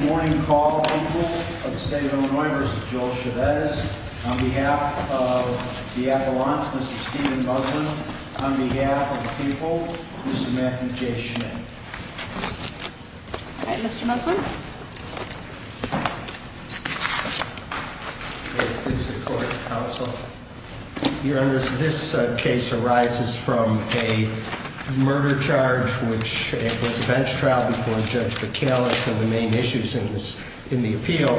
morning call people of the state of Illinois v. Joel Chavez. On behalf of the Avalanche, Mr. Steven Muslin. On behalf of the people, Mr. Matthew J. Schmitt. All right, Mr. Muslin. This is the Court of Counsel. Your Honors, this case arises from a murder charge, which was a bench trial before Judge McAllis. And the main issues in this, in the appeal,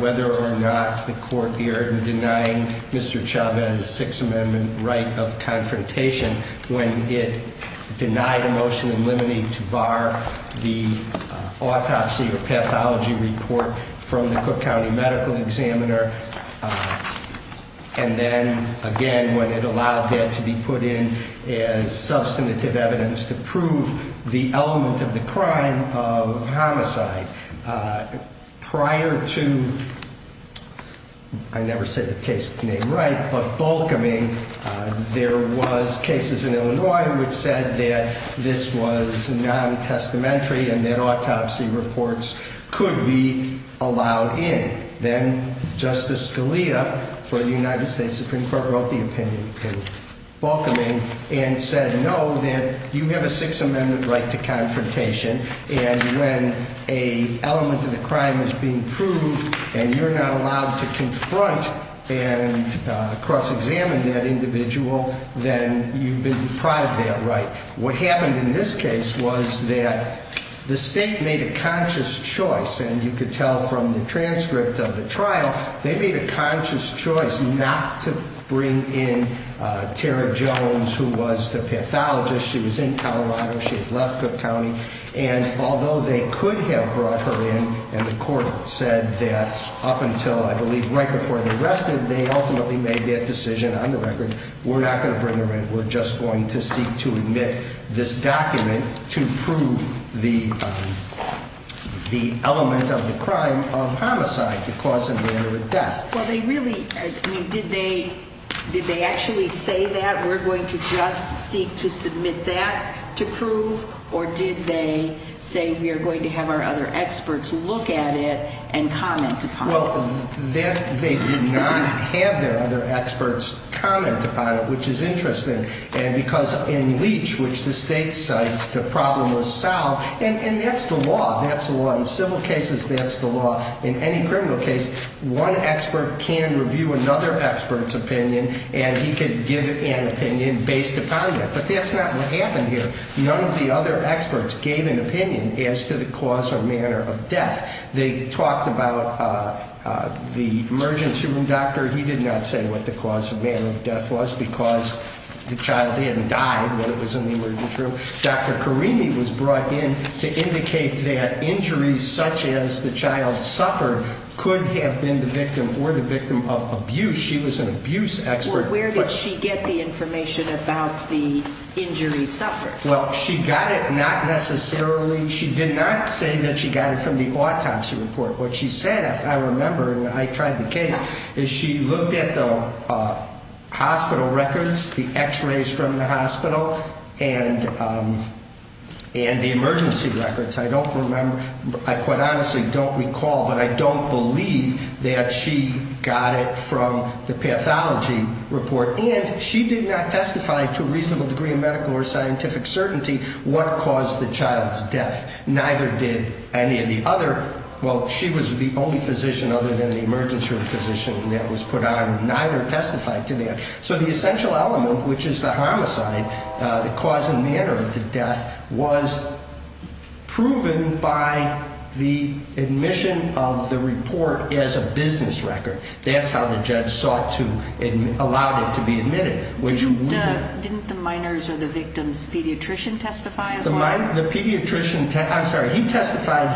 whether or not the court erred in denying Mr. Chavez's Sixth Amendment right of confrontation when it denied a motion in limine to bar the autopsy or pathology report from the Cook County Medical Examiner. And then, again, when it allowed that to be put in as substantive evidence to prove the element of the crime of homicide. Prior to, I never said the case name right, but Bolkoming, there was cases in Illinois which said that this was non-testamentary and that autopsy reports could be allowed in. Then Justice Scalia, for the United States Supreme Court, wrote the opinion in Bolkoming and said, no, that you have a Sixth Amendment right to confrontation. And when a element of the crime is being proved and you're not allowed to confront and cross-examine that individual, then you've been deprived that right. What happened in this case was that the state made a conscious choice, and you could tell from the transcript of the trial, they made a conscious choice not to bring in Tara Jones, who was the pathologist. She was in Colorado. She had left Cook County. And although they could have brought her in and the court said that up until, I believe, right before they arrested, they ultimately made that decision on the record, we're not going to bring her in. We're just going to seek to admit this document to prove the element of the crime of homicide to cause a manner of death. Well, they really, I mean, did they actually say that, we're going to just seek to submit that to prove? Or did they say, we are going to have our other experts look at it and comment upon it? Well, they did not have their other experts comment upon it, which is in Leach, which the state cites, the problem was solved. And that's the law. That's the law in civil cases. That's the law in any criminal case. One expert can review another expert's opinion, and he could give an opinion based upon that. But that's not what happened here. None of the other experts gave an opinion as to the cause or manner of death. They talked about the emergency room doctor. He did not say what the cause or manner of death was because the cause of death was in the emergency room. Dr. Karimi was brought in to indicate that injuries such as the child suffered could have been the victim or the victim of abuse. She was an abuse expert. Where did she get the information about the injury suffered? Well, she got it not necessarily, she did not say that she got it from the autopsy report. What she said, if I remember, and I tried the case, is she looked at the hospital records, the x-rays from the hospital, and the emergency records. I don't remember, I quite honestly don't recall, but I don't believe that she got it from the pathology report. And she did not testify to a reasonable degree of medical or scientific certainty what caused the child's death. Neither did any of the other, well, she was the only physician other than the emergency room physician that was put on. Neither testified to that. So the essential element, which is the homicide, the cause and manner of the death, was proven by the admission of the report as a business record. That's how the judge sought to allow it to be admitted. Didn't the minors or the victims' pediatrician testify as well? The pediatrician, I'm sorry, he testified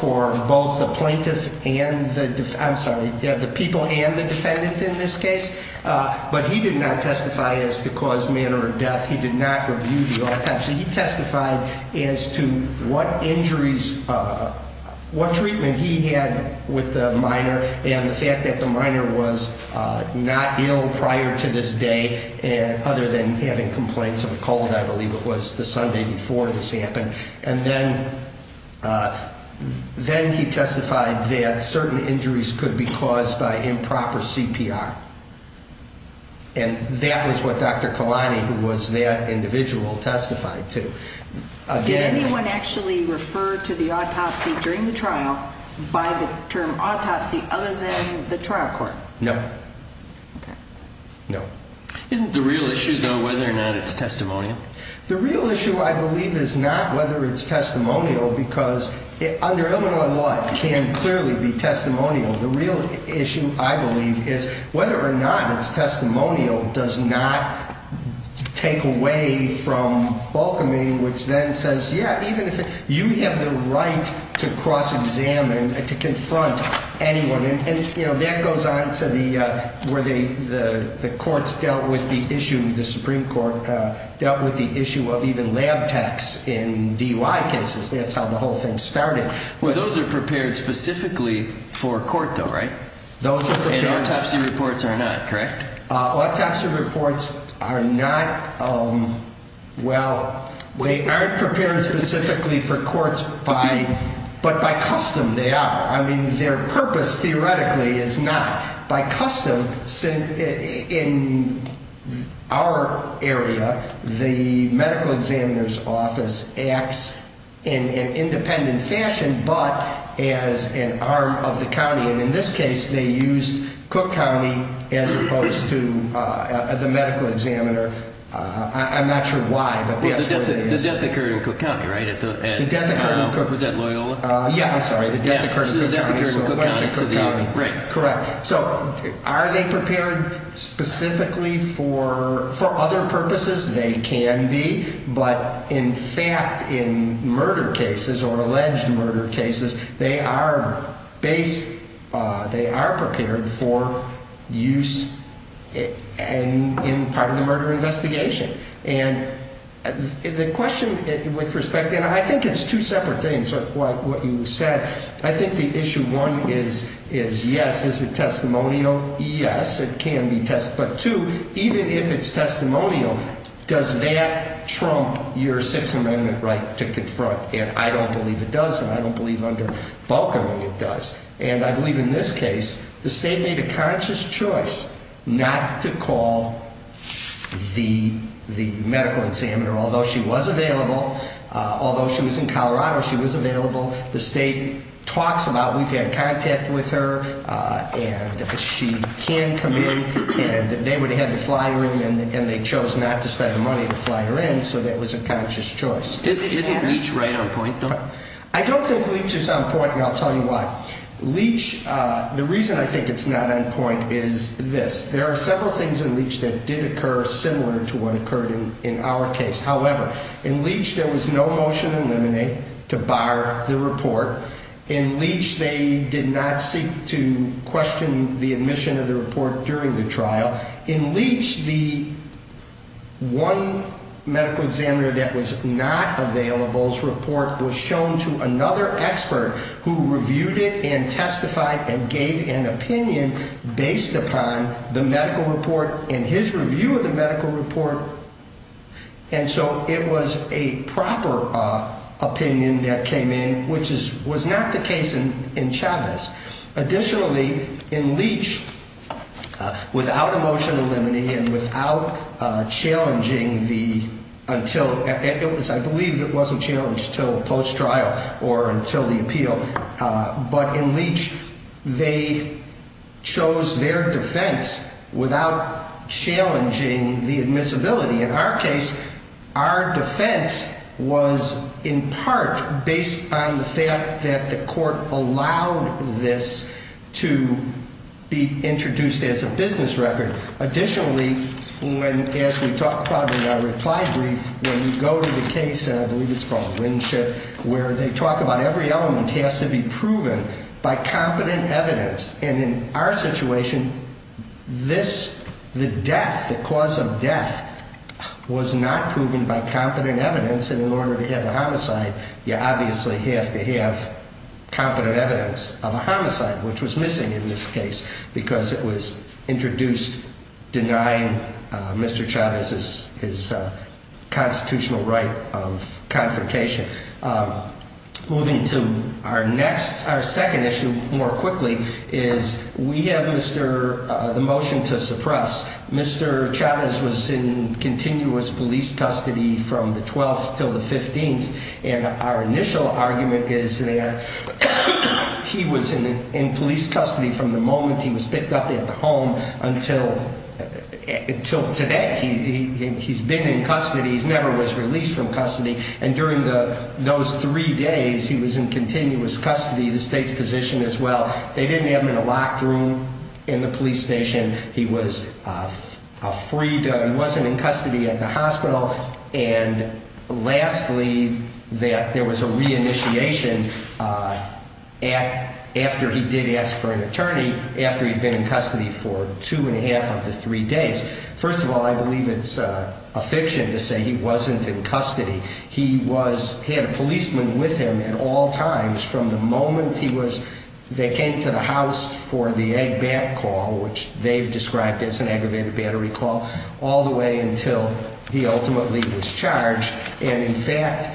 for both the plaintiff and the, I'm sorry, the people and the defendant in this case, but he did not testify as to cause, manner of death. He did not review the autopsy. He testified as to what injuries, what treatment he had with the minor, and the fact that the minor was not ill prior to this day, other than having complaints of a cold, I believe it was the Sunday before this happened, and then he testified that certain injuries could be caused by improper CPR. And that was what Dr. Kalani, who was that individual, testified to. Did anyone actually refer to the autopsy during the trial by the term autopsy other than the trial court? No. No. Isn't the real issue, though, whether or not it's testimonial? The real issue, I believe, is not whether it's testimonial, because under Illinois law, it can clearly be testimonial. The real issue, I believe, is whether or not it's testimonial does not take away from balkaming, which then says, yeah, even if you have the right to cross-examine and to confront anyone. And, you know, that goes on to the, where the courts dealt with the issue, the Supreme Court dealt with the issue of even lab techs in DUI cases. That's how the whole thing started. Well, those are prepared specifically for court, though, right? Those are prepared. And autopsy reports are not, correct? Autopsy reports are not, well, they aren't prepared specifically for courts by, but by custom, they are. I mean, their purpose, theoretically, is not. By custom, in our area, the medical examiner's office acts in an independent fashion, but as an arm of the county. And in this case, they used Cook County as opposed to the medical examiner. I'm not sure why, but that's what it is. The death occurred in Cook County, right? The death occurred in Cook, was that Loyola? Yeah, I'm sorry, the death occurred in Cook County, so it went to Cook County, correct. So are they prepared specifically for, for other purposes? They can be, but in fact, in murder cases or alleged murder cases, they are based, they are prepared for use in part of the murder investigation. And the question with respect, and I think it's two separate things, what you said, I think the issue one is, is yes, is it testimonial? Yes, it can be test, but two, even if it's testimonial, does that trump your Sixth Amendment right to confront? And I don't believe it does, and I don't believe under Balcombe it does. And I believe in this case, the state made a conscious choice not to call the, the person who was available. The state talks about, we've had contact with her, and she can come in, and they would have had to fly her in, and they chose not to spend the money to fly her in, so that was a conscious choice. Isn't Leach right on point though? I don't think Leach is on point, and I'll tell you why. Leach, the reason I think it's not on point is this, there are several things in Leach that did occur similar to what occurred in our case. However, in Leach, there was no motion to eliminate, to bar the report. In Leach, they did not seek to question the admission of the report during the trial. In Leach, the one medical examiner that was not available's report was shown to another So it was a proper opinion that came in, which is, was not the case in, in Chavez. Additionally, in Leach, without a motion to eliminate and without challenging the, until, it was, I believe it wasn't challenged until post-trial or until the appeal, but in Leach, they chose their defense without challenging the admissibility. In our case, our defense was in part based on the fact that the court allowed this to be introduced as a business record. Additionally, when, as we talked about in our reply brief, when you go to the case, and I believe it's called Winship, where they talk about every element has to be proven by competent evidence. And in our situation, this, the death, the cause of death was not proven by competent evidence. And in order to have a homicide, you obviously have to have competent evidence of a homicide, which was missing in this case because it was introduced denying Mr. Chavez his constitutional right of confrontation. Moving to our next, our second issue more quickly is we have Mr., the motion to suppress. Mr. Chavez was in continuous police custody from the 12th till the 15th. And our initial argument is that he was in police custody from the moment he was picked up at the home until, until today. He's been in custody. He never was released from custody. And during those three days, he was in continuous custody, the state's position as well. They didn't have him in a locked room in the police station. He was freed. He wasn't in custody at the hospital. And lastly, that there was a re-initiation at, after he did ask for an attorney, after he'd been in custody for two and a half of the three days. First of all, I believe it's a fiction to say he wasn't in custody. He was, he had a policeman with him at all times from the moment he was, they came to the house for the egg bat call, which they've described as an aggravated battery call, all the way until he ultimately was released. He ultimately was charged. And in fact,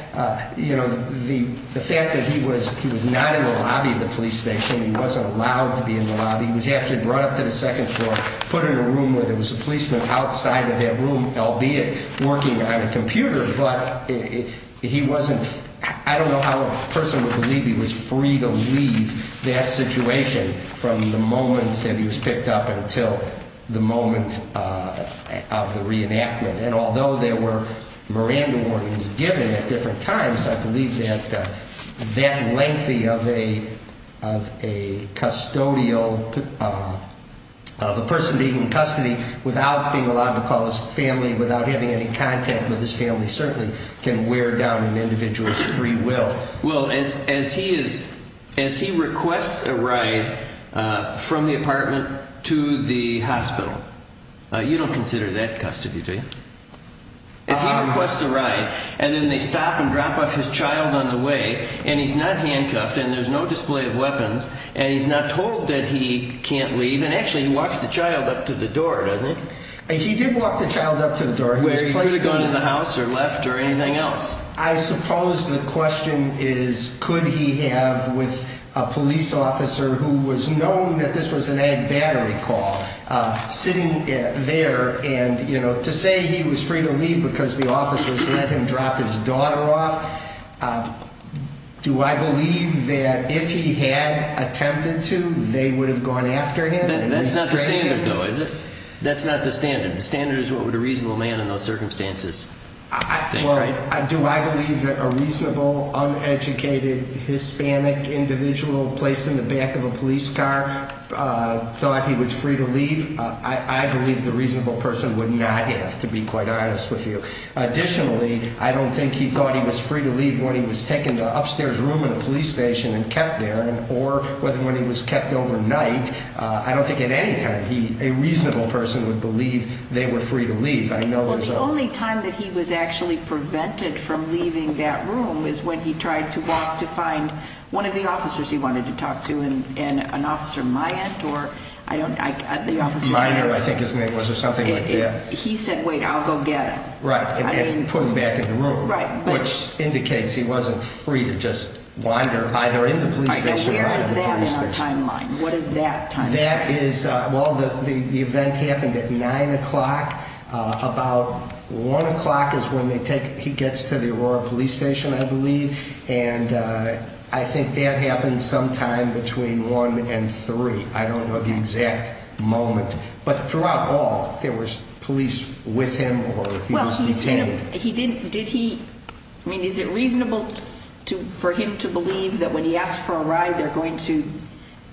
you know, the fact that he was, he was not in the lobby of the police station, he wasn't allowed to be in the lobby. He was actually brought up to the second floor, put in a room where there was a policeman outside of that room, albeit working on a computer, but he wasn't, I don't know how a person would believe he was free to leave that situation from the moment that he was picked up until the moment of the reenactment. And although there were Miranda warnings given at different times, I believe that that lengthy of a, of a custodial, of a person being in custody without being allowed to call his family, without having any contact with his family, certainly can wear down an individual's free will. Well, as, as he is, as he requests a ride from the apartment to the hospital, you don't consider that custody, do you? If he requests a ride and then they stop and drop off his child on the way and he's not handcuffed and there's no display of weapons and he's not told that he can't leave. And actually he walks the child up to the door, doesn't he? He did walk the child up to the door. He was placed in the house or left or anything else. I suppose the question is, could he have with a police officer who was known that this was an ad battery call, uh, sitting there and, you know, to say he was free to leave because the officers let him drop his daughter off. Do I believe that if he had attempted to, they would have gone after him? That's not the standard though, is it? That's not the standard. The standard is what would a reasonable man in those circumstances think, right? Do I believe that a reasonable uneducated Hispanic individual placed in the back of a police car thought he was free to leave? I believe the reasonable person would not have to be quite honest with you. Additionally, I don't think he thought he was free to leave when he was taken to an upstairs room in a police station and kept there or whether when he was kept overnight. I don't think at any time he, a reasonable person would believe they were free to leave. I know the only time that he was actually prevented from leaving that room is when he tried to walk to find one of the officers he wanted to talk to. And an officer, my aunt or I don't, I think his name was or something like that. He said, wait, I'll go get him. Right. I didn't put him back in the room, which indicates he wasn't free to just wander either in the police station. Where is that in our timeline? What is that timeline? That is, well, the event happened at nine o'clock. About one o'clock is when they take, he gets to the Aurora police station, I believe. And I think that happened sometime between one and three. I don't know the exact moment, but throughout all there was police with him or he was detained. He didn't, did he, I mean, is it reasonable to, for him to believe that when he asked for a ride, they're going to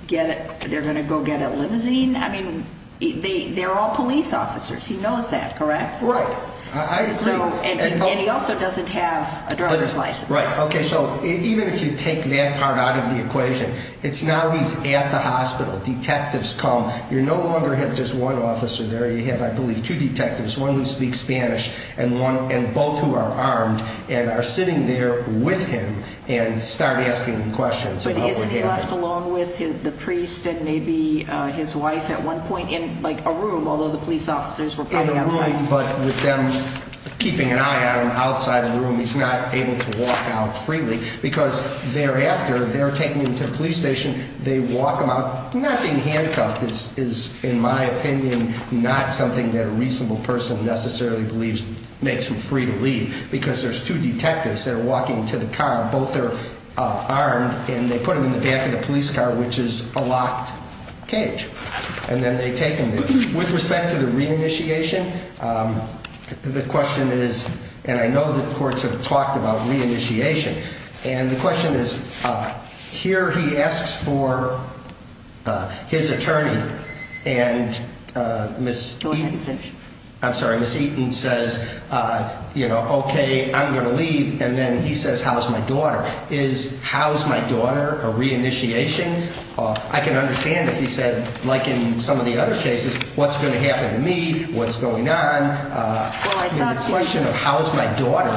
get it, they're going to go get a limousine? I mean, they, they're all police officers. He knows that, correct? Right. And he also doesn't have a driver's license. Right. Okay. So even if you take that part out of the equation, it's now he's at the hospital. Detectives come. You no longer have just one officer there. You have, I believe, two detectives, one who speaks Spanish and one, and both who are armed and are sitting there with him and start asking questions. But isn't he left alone with the priest and maybe his wife at one point in like a room, although the police officers were probably outside? In a room, but with them keeping an eye on him outside of the room, he's not able to walk out freely because thereafter they're taking him to the police station. They walk him out. Not being handcuffed is, is in my opinion, not something that a reasonable person necessarily believes makes him free to leave because there's two detectives that are walking to the car. Both are armed and they put him in the back of the police car, which is a locked cage. And then they take him. With respect to the re-initiation, the question is, and I know that courts have talked about re-initiation. And the question is, here he asks for his attorney and Ms. Eaton says, you know, okay, I'm going to leave. And then he says, how's my daughter? Is, how's my daughter a re-initiation? I can understand if he said, like in some of the other cases, what's going to happen to me? What's going on? The question of how is my daughter?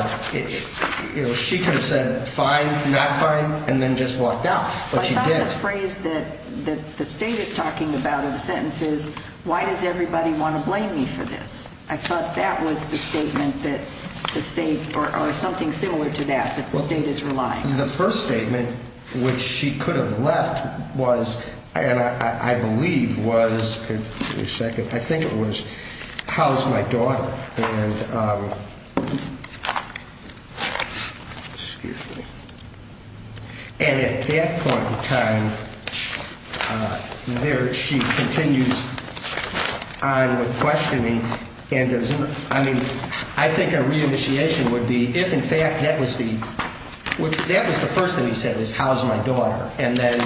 She could have said fine, not fine, and then just walked out. I thought the phrase that the state is talking about in the sentence is, why does everybody want to blame me for this? I thought that was the statement that the state or something similar to that, that the state is relying. The first statement which she could have left was, and I believe was, give me a second, I think it was, how's my daughter? And at that point in time, there she continues on with questioning. I mean, I think a re-initiation would be, if in fact that was the, that was the first thing he said was, how's my daughter? And then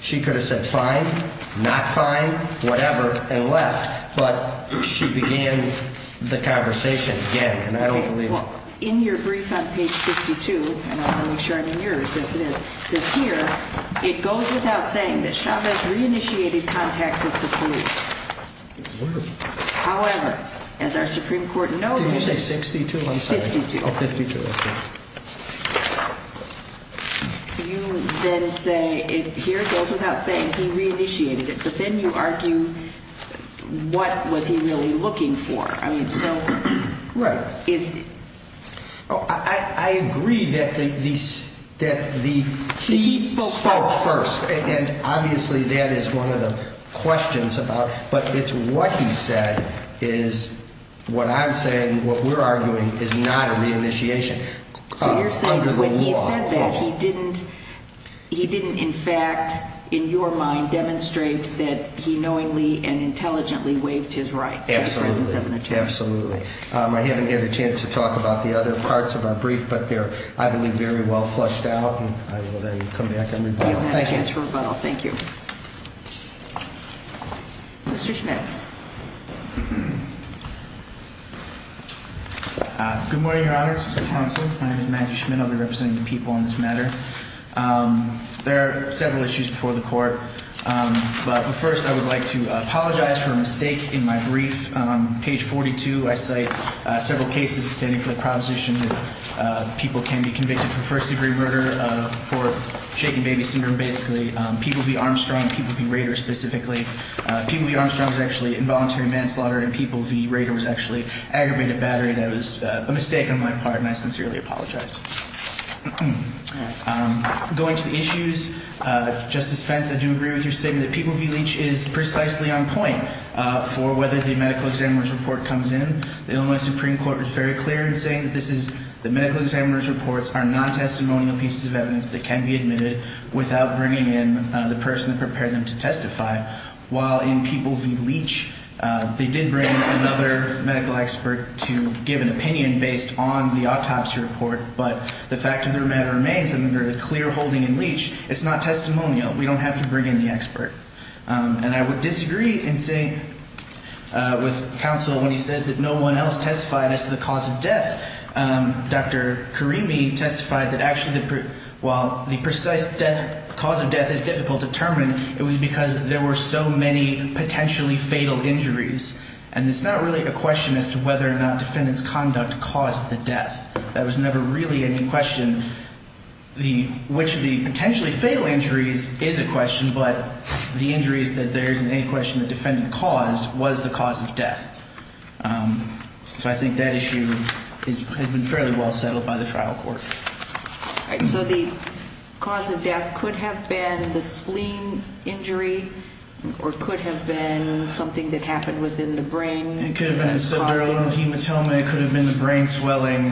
she could have said fine, not fine, whatever, and left. But she began the conversation again, and I don't believe it. In your brief on page 52, and I want to make sure I'm in yours, yes it is, it says here, it goes without saying that Chavez re-initiated contact with the police. However, as our Supreme Court noted, did you say 62? I'm sorry. 52. You then say, here it goes without saying he re-initiated it, but then you argue, what was he really looking for? I mean, so, is. I agree that he spoke first, and obviously that is one of the questions about, but it's what he said is, what I'm saying, what we're arguing, is not a re-initiation. So you're saying when he said that, he didn't, he didn't in fact, in your mind, demonstrate that he knowingly and intelligently waived his rights in the presence of an attorney? Absolutely. I haven't had a chance to talk about the other parts of our brief, but they're, I believe, very well flushed out, and I will then come back and rebuttal. Thank you. You'll have a chance for rebuttal. Thank you. Mr. Schmidt. Good morning, Your Honor, Mr. Counsel. My name is Matthew Schmidt. I'll be representing the people on this matter. There are several issues before the court, but first I would like to apologize for a mistake in my brief. On page 42, I cite several cases standing for the proposition that people can be convicted for first-degree murder for shaken baby syndrome, basically. People v. Armstrong, people v. Rader specifically. People v. Armstrong was actually involuntary manslaughter, and people v. Rader was actually aggravated battery. That was a mistake on my part, and I sincerely apologize. Going to the issues, Justice Fentz, I do agree with your statement that people v. Leach is precisely on point for whether the medical examiner's report comes in. The Illinois Supreme Court was very clear in saying that the medical examiner's reports are non-testimonial pieces of evidence that can be admitted without bringing in the person that prepared them to testify. While in people v. Leach, they did bring in another medical expert to give an opinion based on the autopsy report, but the fact of the matter remains that under a clear holding in Leach, it's not testimonial. We don't have to bring in the expert, and I would disagree with counsel when he says that no one else testified as to the cause of death. Dr. Karimi testified that actually while the precise cause of death is difficult to determine, it was because there were so many potentially fatal injuries, and it's not really a question as to whether or not defendant's conduct caused the death. That was never really any question. Which of the potentially fatal injuries is a question, but the injuries that there is in any question the defendant caused was the cause of death. So I think that issue has been fairly well settled by the trial court. All right. So the cause of death could have been the spleen injury or could have been something that happened within the brain. It could have been the subdural hematoma. It could have been the brain swelling.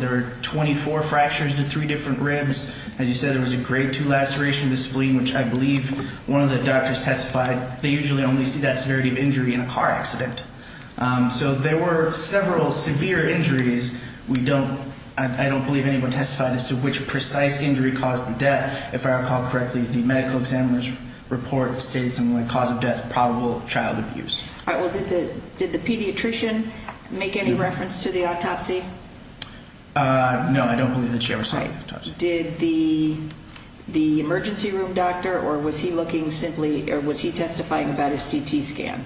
There were 24 fractures to three different ribs. As you said, there was a grade two laceration of the spleen, which I believe one of the doctors testified they usually only see that severity of injury in a car accident. So there were several severe injuries. I don't believe anyone testified as to which precise injury caused the death. If I recall correctly, the medical examiner's report stated something like cause of death probable of child abuse. All right. Well, did the pediatrician make any reference to the autopsy? No, I don't believe that she ever saw the autopsy. Did the emergency room doctor or was he looking simply or was he testifying about a CT scan?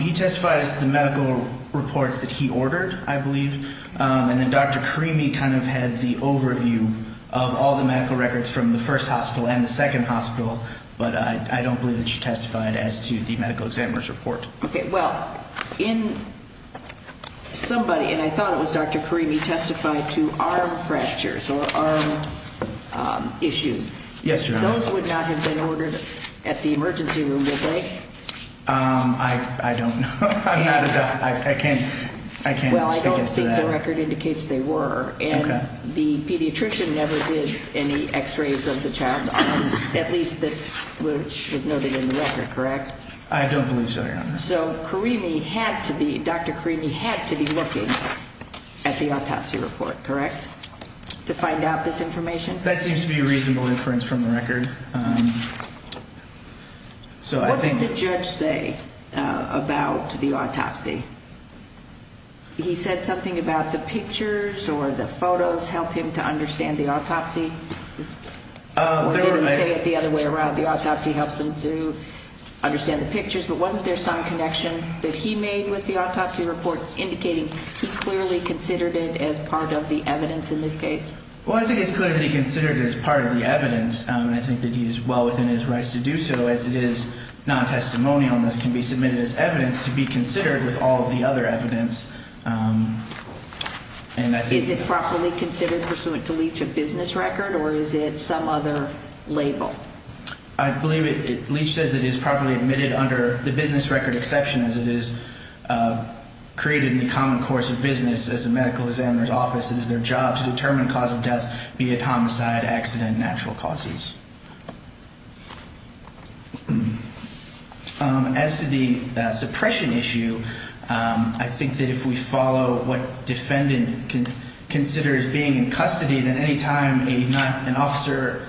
He testified as to the medical reports that he ordered, I believe. And then Dr. Karimi kind of had the overview of all the medical records from the first hospital and the second hospital, but I don't believe that she testified as to the medical examiner's report. Okay. Well, in somebody, and I thought it was Dr. Karimi, testified to arm fractures or arm issues. Yes, Your Honor. Those would not have been ordered at the emergency room, would they? I don't know. I'm not a doctor. I can't speak to that. Well, I don't think the record indicates they were. Okay. The pediatrician never did any x-rays of the child's arms, at least that was noted in the record, correct? I don't believe so, Your Honor. So Dr. Karimi had to be looking at the autopsy report, correct, to find out this information? That seems to be a reasonable inference from the record. What did the judge say about the autopsy? He said something about the pictures or the photos help him to understand the autopsy? Or did he say it the other way around, the autopsy helps him to understand the pictures, but wasn't there some connection that he made with the autopsy report indicating he clearly considered it as part of the evidence in this case? Well, I think it's clear that he considered it as part of the evidence, and I think that he is well within his rights to do so as it is non-testimonial and can be submitted as evidence to be considered with all of the other evidence. Is it properly considered pursuant to Leach a business record or is it some other label? I believe Leach says it is properly admitted under the business record exception as it is created in the common course of business as a medical examiner's office. It is their job to determine cause of death, be it homicide, accident, natural causes. As to the suppression issue, I think that if we follow what defendant considers being in custody, then any time an officer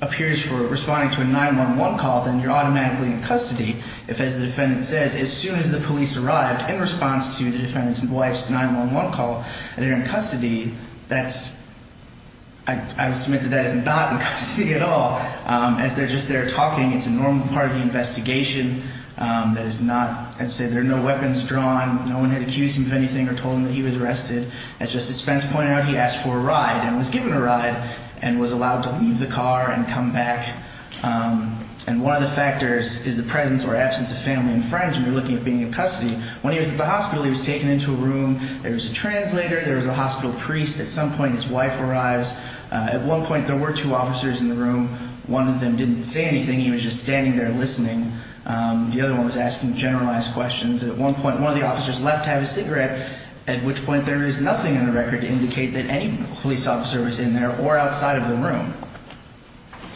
appears for responding to a 911 call, then you're automatically in custody. If, as the defendant says, as soon as the police arrived in response to the defendant's wife's 911 call, they're in custody, I would submit that that is not in custody at all. As they're just there talking, it's a normal part of the investigation. That is not, I'd say there are no weapons drawn. No one had accused him of anything or told him that he was arrested. As Justice Spence pointed out, he asked for a ride and was given a ride and was allowed to leave the car and come back. And one of the factors is the presence or absence of family and friends when you're looking at being in custody. When he was at the hospital, he was taken into a room. There was a translator. There was a hospital priest. At some point, his wife arrives. At one point, there were two officers in the room. One of them didn't say anything. He was just standing there listening. The other one was asking generalized questions. At one point, one of the officers left to have a cigarette, at which point there is nothing on the record to indicate that any police officer was in there or outside of the room.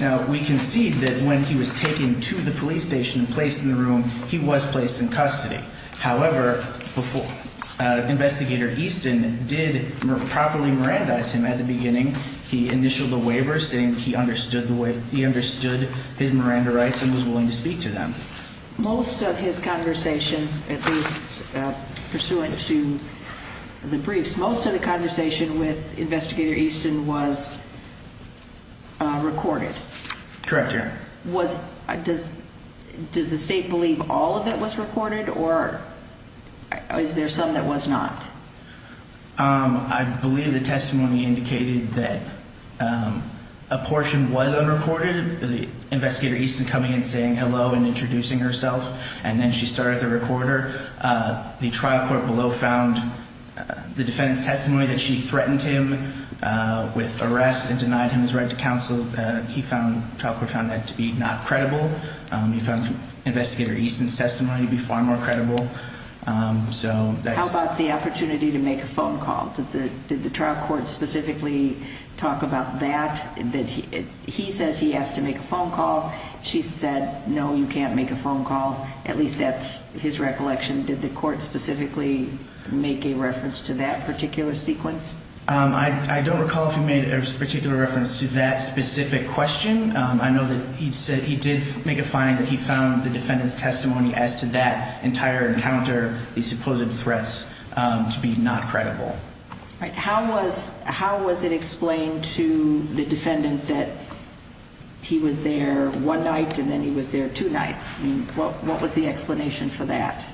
Now, we concede that when he was taken to the police station and placed in the room, he was placed in custody. However, Investigator Easton did properly Mirandize him at the beginning. He initialed the waiver, saying he understood his Miranda rights and was willing to speak to them. Most of his conversation, at least pursuant to the briefs, most of the conversation with Investigator Easton was recorded. Correct, Your Honor. Does the state believe all of it was recorded, or is there some that was not? I believe the testimony indicated that a portion was unrecorded, Investigator Easton coming and saying hello and introducing herself, and then she started the recorder. The trial court below found the defendant's testimony that she threatened him with arrest and denied him his right to counsel. The trial court found that to be not credible. Investigator Easton's testimony would be far more credible. How about the opportunity to make a phone call? Did the trial court specifically talk about that? He says he has to make a phone call. She said, no, you can't make a phone call. At least that's his recollection. Did the court specifically make a reference to that particular sequence? I don't recall if he made a particular reference to that specific question. I know that he did make a finding that he found the defendant's testimony as to that entire encounter, these supposed threats, to be not credible. How was it explained to the defendant that he was there one night and then he was there two nights? What was the explanation for that?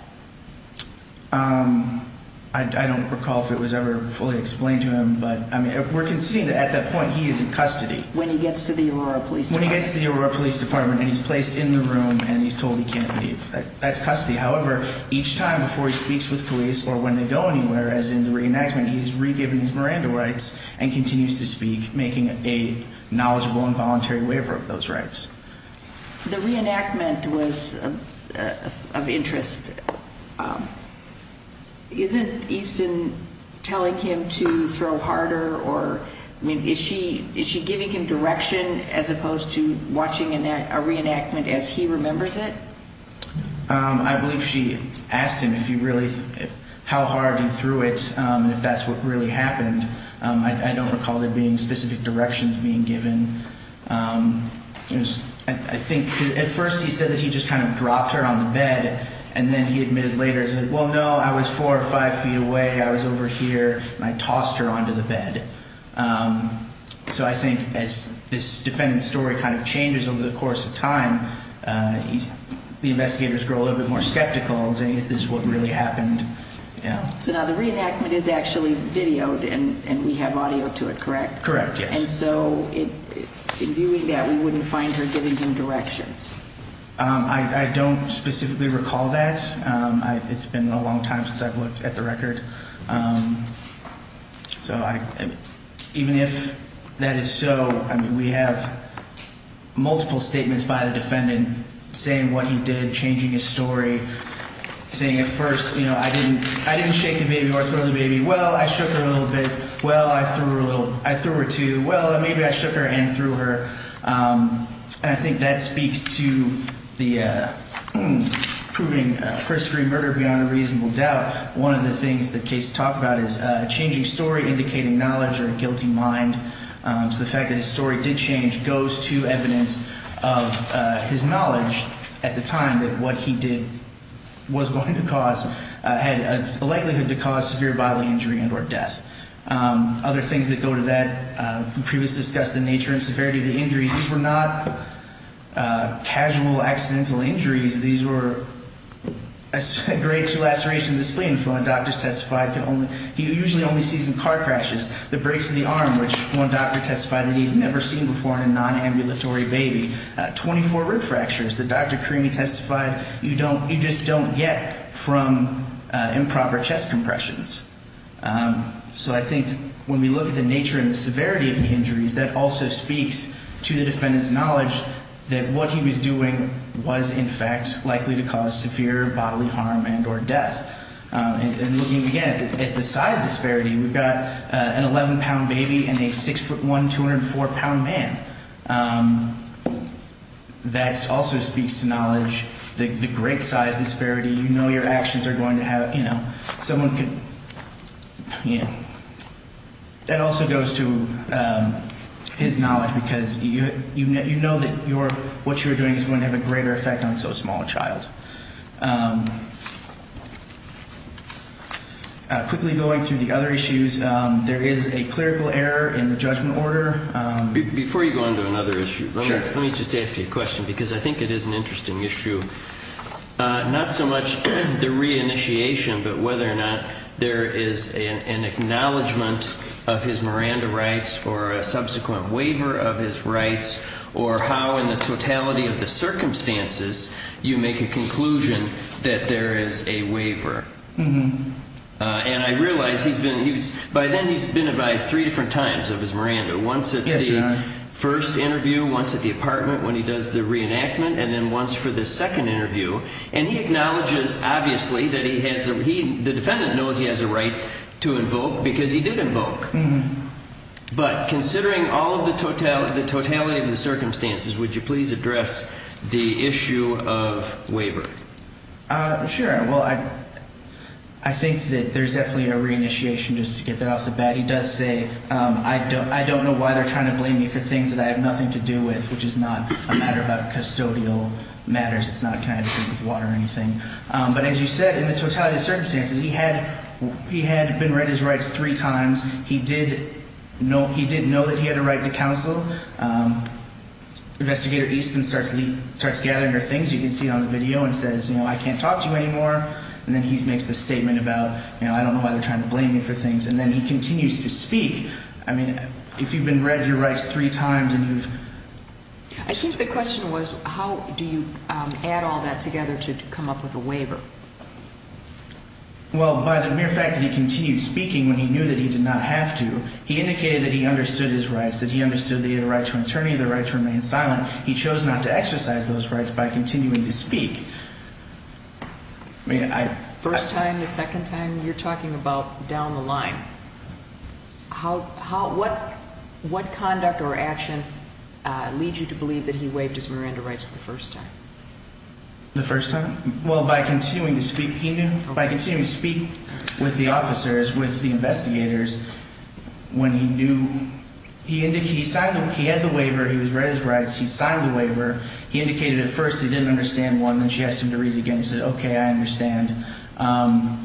I don't recall if it was ever fully explained to him, but we're conceding that at that point he is in custody. When he gets to the Aurora Police Department. When he gets to the Aurora Police Department and he's placed in the room and he's told he can't leave. That's custody. However, each time before he speaks with police or when they go anywhere, as in the reenactment, he is re-given his Miranda rights and continues to speak, making a knowledgeable and voluntary waiver of those rights. The reenactment was of interest. Isn't Easton telling him to throw harder or is she giving him direction as opposed to watching a reenactment as he remembers it? I believe she asked him how hard he threw it and if that's what really happened. I don't recall there being specific directions being given. I think at first he said that he just kind of dropped her on the bed and then he admitted later, well, no, I was four or five feet away. I was over here and I tossed her onto the bed. So I think as this defendant's story kind of changes over the course of time, the investigators grow a little bit more skeptical. Is this what really happened? So now the reenactment is actually videoed and we have audio to it, correct? Correct, yes. And so in viewing that, we wouldn't find her giving him directions? I don't specifically recall that. It's been a long time since I've looked at the record. So even if that is so, we have multiple statements by the defendant saying what he did, changing his story, saying at first, you know, I didn't shake the baby or throw the baby. Well, I shook her a little bit. Well, I threw her two. Well, maybe I shook her and threw her. And I think that speaks to the proving first-degree murder beyond a reasonable doubt. One of the things the case talked about is a changing story indicating knowledge or a guilty mind. So the fact that his story did change goes to evidence of his knowledge at the time that what he did was going to cause, had a likelihood to cause severe bodily injury and or death. Other things that go to that, we previously discussed the nature and severity of the injuries. These were not casual accidental injuries. These were a grade two laceration of the spleen. He usually only sees in car crashes. The breaks in the arm, which one doctor testified that he had never seen before in a nonambulatory baby. Twenty-four rib fractures that Dr. Creamy testified you just don't get from improper chest compressions. So I think when we look at the nature and severity of the injuries, that also speaks to the defendant's knowledge that what he was doing was in fact likely to cause severe bodily harm and or death. And looking again at the size disparity, we've got an 11-pound baby and a 6'1", 204-pound man. That also speaks to knowledge, the great size disparity. You know your actions are going to have, you know, someone could, you know. That also goes to his knowledge because you know that what you're doing is going to have a greater effect on so small a child. Quickly going through the other issues, there is a clerical error in the judgment order. Before you go on to another issue, let me just ask you a question because I think it is an interesting issue. Not so much the reinitiation but whether or not there is an acknowledgement of his Miranda rights or a subsequent waiver of his rights or how in the totality of the circumstances you make a conclusion that there is a waiver. And I realize he's been, by then he's been advised three different times of his Miranda. Once at the first interview, once at the apartment when he does the reenactment and then once for the second interview. And he acknowledges obviously that he has, the defendant knows he has a right to invoke because he did invoke. But considering all of the totality of the circumstances, would you please address the issue of waiver? Sure. Well, I think that there's definitely a reinitiation just to get that off the bat. He does say, I don't know why they're trying to blame me for things that I have nothing to do with, which is not a matter about custodial matters. But as you said, in the totality of the circumstances, he had been read his rights three times. He did know that he had a right to counsel. Investigator Easton starts gathering her things. You can see it on the video and says, you know, I can't talk to you anymore. And then he makes the statement about, you know, I don't know why they're trying to blame me for things. And then he continues to speak. I mean, if you've been read your rights three times and you've… I think the question was, how do you add all that together to come up with a waiver? Well, by the mere fact that he continued speaking when he knew that he did not have to, he indicated that he understood his rights, that he understood that he had a right to an attorney, the right to remain silent. He chose not to exercise those rights by continuing to speak. First time, the second time, you're talking about down the line. What conduct or action leads you to believe that he waived his Miranda rights the first time? The first time? Well, by continuing to speak. He knew? By continuing to speak with the officers, with the investigators, when he knew. He had the waiver. He was read his rights. He signed the waiver. He indicated at first he didn't understand one. Then she asked him to read it again. He said, okay, I understand. And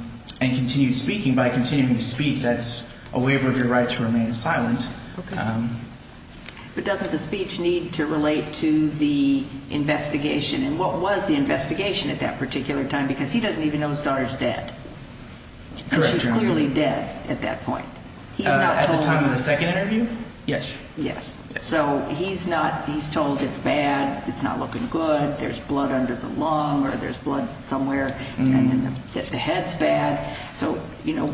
continued speaking. By continuing to speak, that's a waiver of your right to remain silent. Okay. But doesn't the speech need to relate to the investigation? And what was the investigation at that particular time? Because he doesn't even know his daughter's dead. Correct, Your Honor. She's clearly dead at that point. At the time of the second interview? Yes. Yes. So he's not – he's told it's bad, it's not looking good, there's blood under the lung or there's blood somewhere. And the head's bad. So, you know,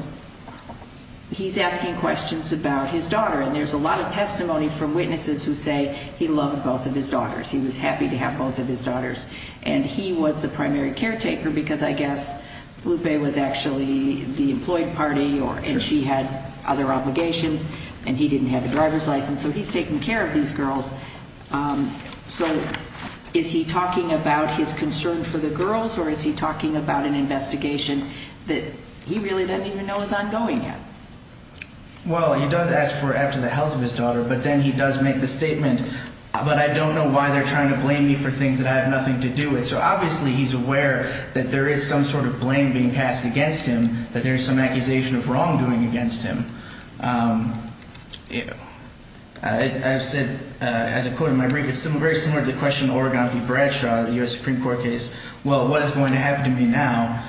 he's asking questions about his daughter. And there's a lot of testimony from witnesses who say he loved both of his daughters. He was happy to have both of his daughters. And he was the primary caretaker because I guess Lupe was actually the employed party and she had other obligations. And he didn't have a driver's license. So he's taking care of these girls. So is he talking about his concern for the girls or is he talking about an investigation that he really doesn't even know is ongoing yet? Well, he does ask for after the health of his daughter, but then he does make the statement, but I don't know why they're trying to blame me for things that I have nothing to do with. So obviously he's aware that there is some sort of blame being passed against him, that there is some accusation of wrongdoing against him. I've said as a quote in my brief, it's very similar to the question in the Oregon v. Bradshaw, the U.S. Supreme Court case. Well, what is going to happen to me now?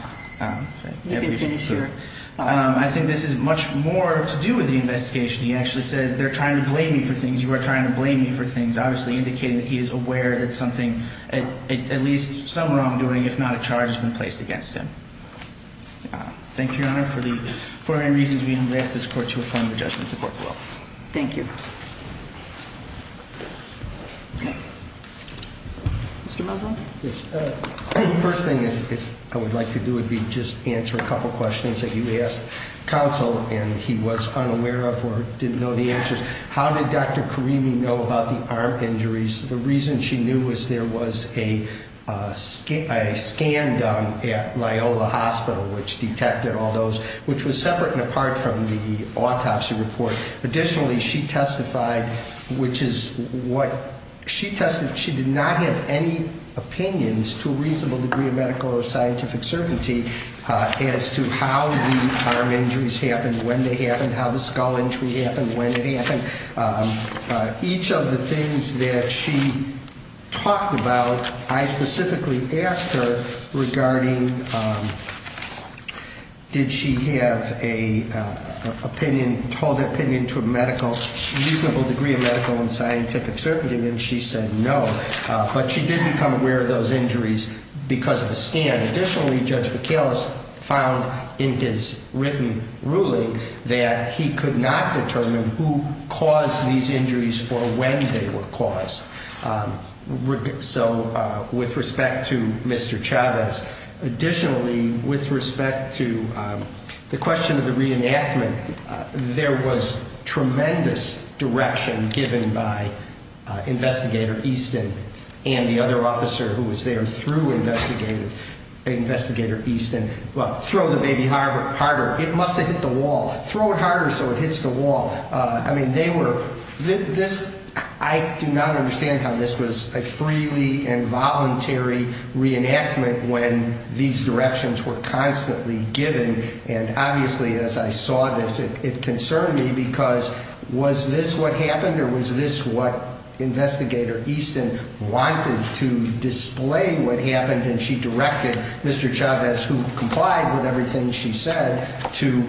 I think this is much more to do with the investigation. He actually says they're trying to blame me for things. You are trying to blame me for things. Obviously indicating that he is aware that something, at least some wrongdoing, if not a charge has been placed against him. Thank you, Your Honor. For any reasons we haven't asked this court to affirm the judgment, the court will. Thank you. Mr. Muslin? First thing I would like to do would be just answer a couple of questions that you asked counsel, and he was unaware of or didn't know the answers. How did Dr. Karimi know about the arm injuries? The reason she knew was there was a scan done at Loyola Hospital, which detected all those, which was separate and apart from the autopsy report. Additionally, she testified, which is what she tested. She did not have any opinions to a reasonable degree of medical or scientific certainty as to how the arm injuries happened, when they happened, how the skull injury happened, when it happened. Each of the things that she talked about, I specifically asked her regarding did she have an opinion, hold an opinion to a medical, reasonable degree of medical and scientific certainty, and she said no. But she did become aware of those injuries because of a scan. Additionally, Judge Michalis found in his written ruling that he could not determine who caused these injuries or when they were caused. So with respect to Mr. Chavez, additionally, with respect to the question of the reenactment, there was tremendous direction given by Investigator Easton and the other officer who was there through Investigator Easton, well, throw the baby harder. It must have hit the wall. Throw it harder so it hits the wall. I mean, they were, this, I do not understand how this was a freely and voluntary reenactment when these directions were constantly given. And obviously, as I saw this, it concerned me because was this what happened or was this what Investigator Easton wanted to display what happened? And she directed Mr. Chavez, who complied with everything she said, to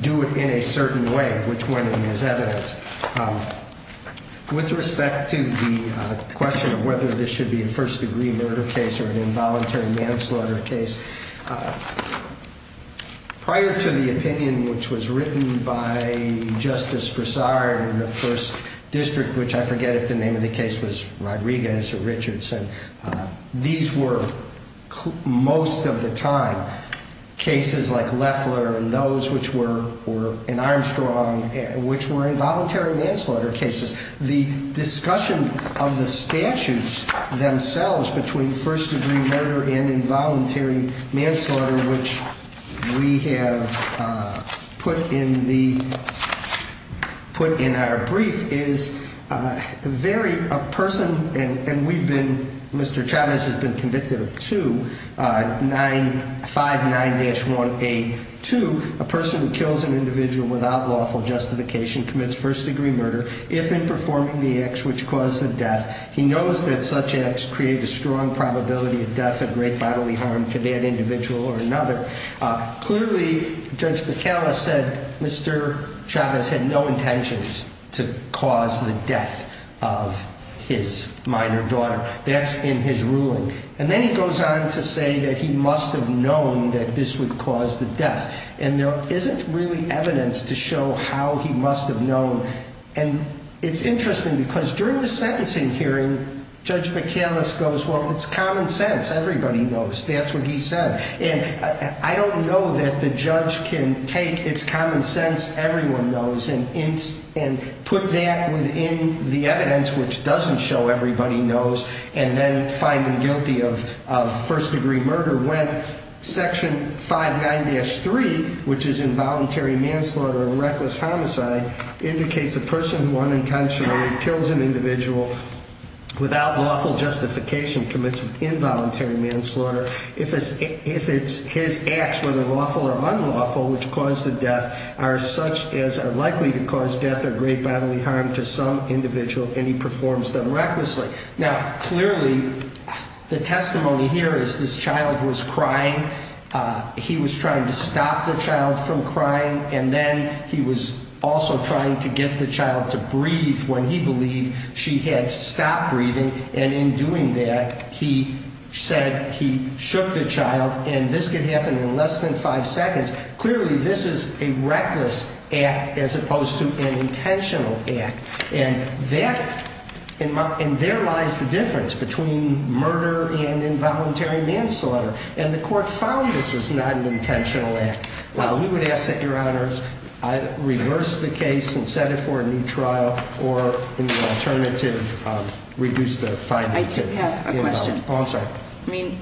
do it in a certain way, which went in as evidence. With respect to the question of whether this should be a first-degree murder case or an involuntary manslaughter case, prior to the opinion which was written by Justice Broussard in the First District, which I forget if the name of the case was Rodriguez or Richardson, these were most of the time cases like Leffler and those which were, or in Armstrong, which were involuntary manslaughter cases. The discussion of the statutes themselves between first-degree murder and involuntary manslaughter, which we have put in the, put in our brief, is very, a person, and we've been, Mr. Chavez has been convicted of two, 959-182, a person who kills an individual without lawful justification commits first-degree murder if in performing the acts which cause the death. He knows that such acts create a strong probability of death, a great bodily harm to that individual or another. Clearly, Judge Bacala said Mr. Chavez had no intentions to cause the death of his minor daughter. That's in his ruling. And then he goes on to say that he must have known that this would cause the death. And there isn't really evidence to show how he must have known. And it's interesting because during the sentencing hearing, Judge Bacala goes, well, it's common sense. Everybody knows. That's what he said. And I don't know that the judge can take it's common sense everyone knows and put that within the evidence which doesn't show everybody knows and then find him guilty of first-degree murder when Section 59-3, which is involuntary manslaughter and reckless homicide, indicates a person who unintentionally kills an individual without lawful justification commits involuntary manslaughter if it's his acts, whether lawful or unlawful, which cause the death are such as are likely to cause death or great bodily harm to some individual and he performs them recklessly. Now, clearly, the testimony here is this child was crying. He was trying to stop the child from crying. And then he was also trying to get the child to breathe when he believed she had stopped breathing. And in doing that, he said he shook the child. And this could happen in less than five seconds. Clearly, this is a reckless act as opposed to an intentional act. And there lies the difference between murder and involuntary manslaughter. And the court found this was not an intentional act. Now, we would ask that, Your Honors, reverse the case and set it for a new trial or in the alternative, reduce the fine. I do have a question. Oh, I'm sorry. I mean,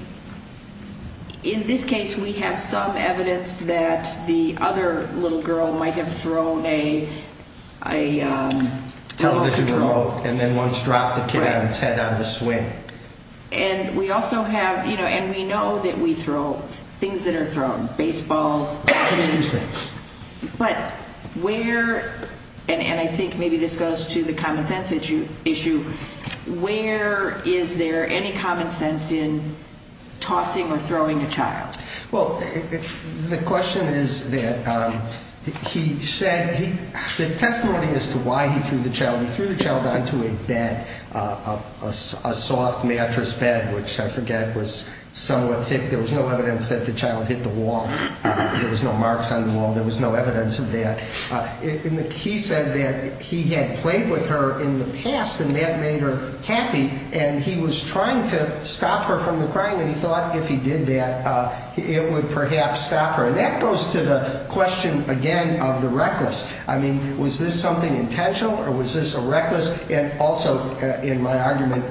in this case, we have some evidence that the other little girl might have thrown a television remote and then once dropped the kid on its head on the swing. And we also have, you know, and we know that we throw things that are thrown, baseballs. Excuse me. But where, and I think maybe this goes to the common sense issue, where is there any common sense in tossing or throwing a child? Well, the question is that he said, the testimony as to why he threw the child, a soft mattress bed, which I forget was somewhat thick. There was no evidence that the child hit the wall. There was no marks on the wall. There was no evidence of that. He said that he had played with her in the past and that made her happy. And he was trying to stop her from the crying. And he thought if he did that, it would perhaps stop her. And that goes to the question again of the reckless. I mean, was this something intentional or was this a reckless? And also in my argument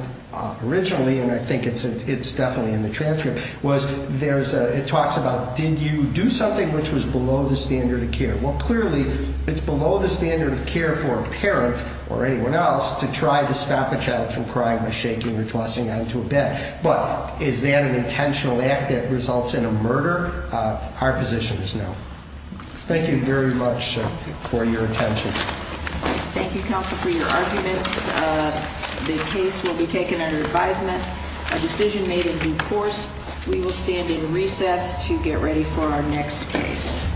originally, and I think it's definitely in the transcript, was it talks about did you do something which was below the standard of care? Well, clearly it's below the standard of care for a parent or anyone else to try to stop a child from crying by shaking or tossing onto a bed. But is that an intentional act that results in a murder? Our position is no. Thank you very much for your attention. Thank you, Counsel, for your arguments. The case will be taken under advisement. A decision made in due course. We will stand in recess to get ready for our next case.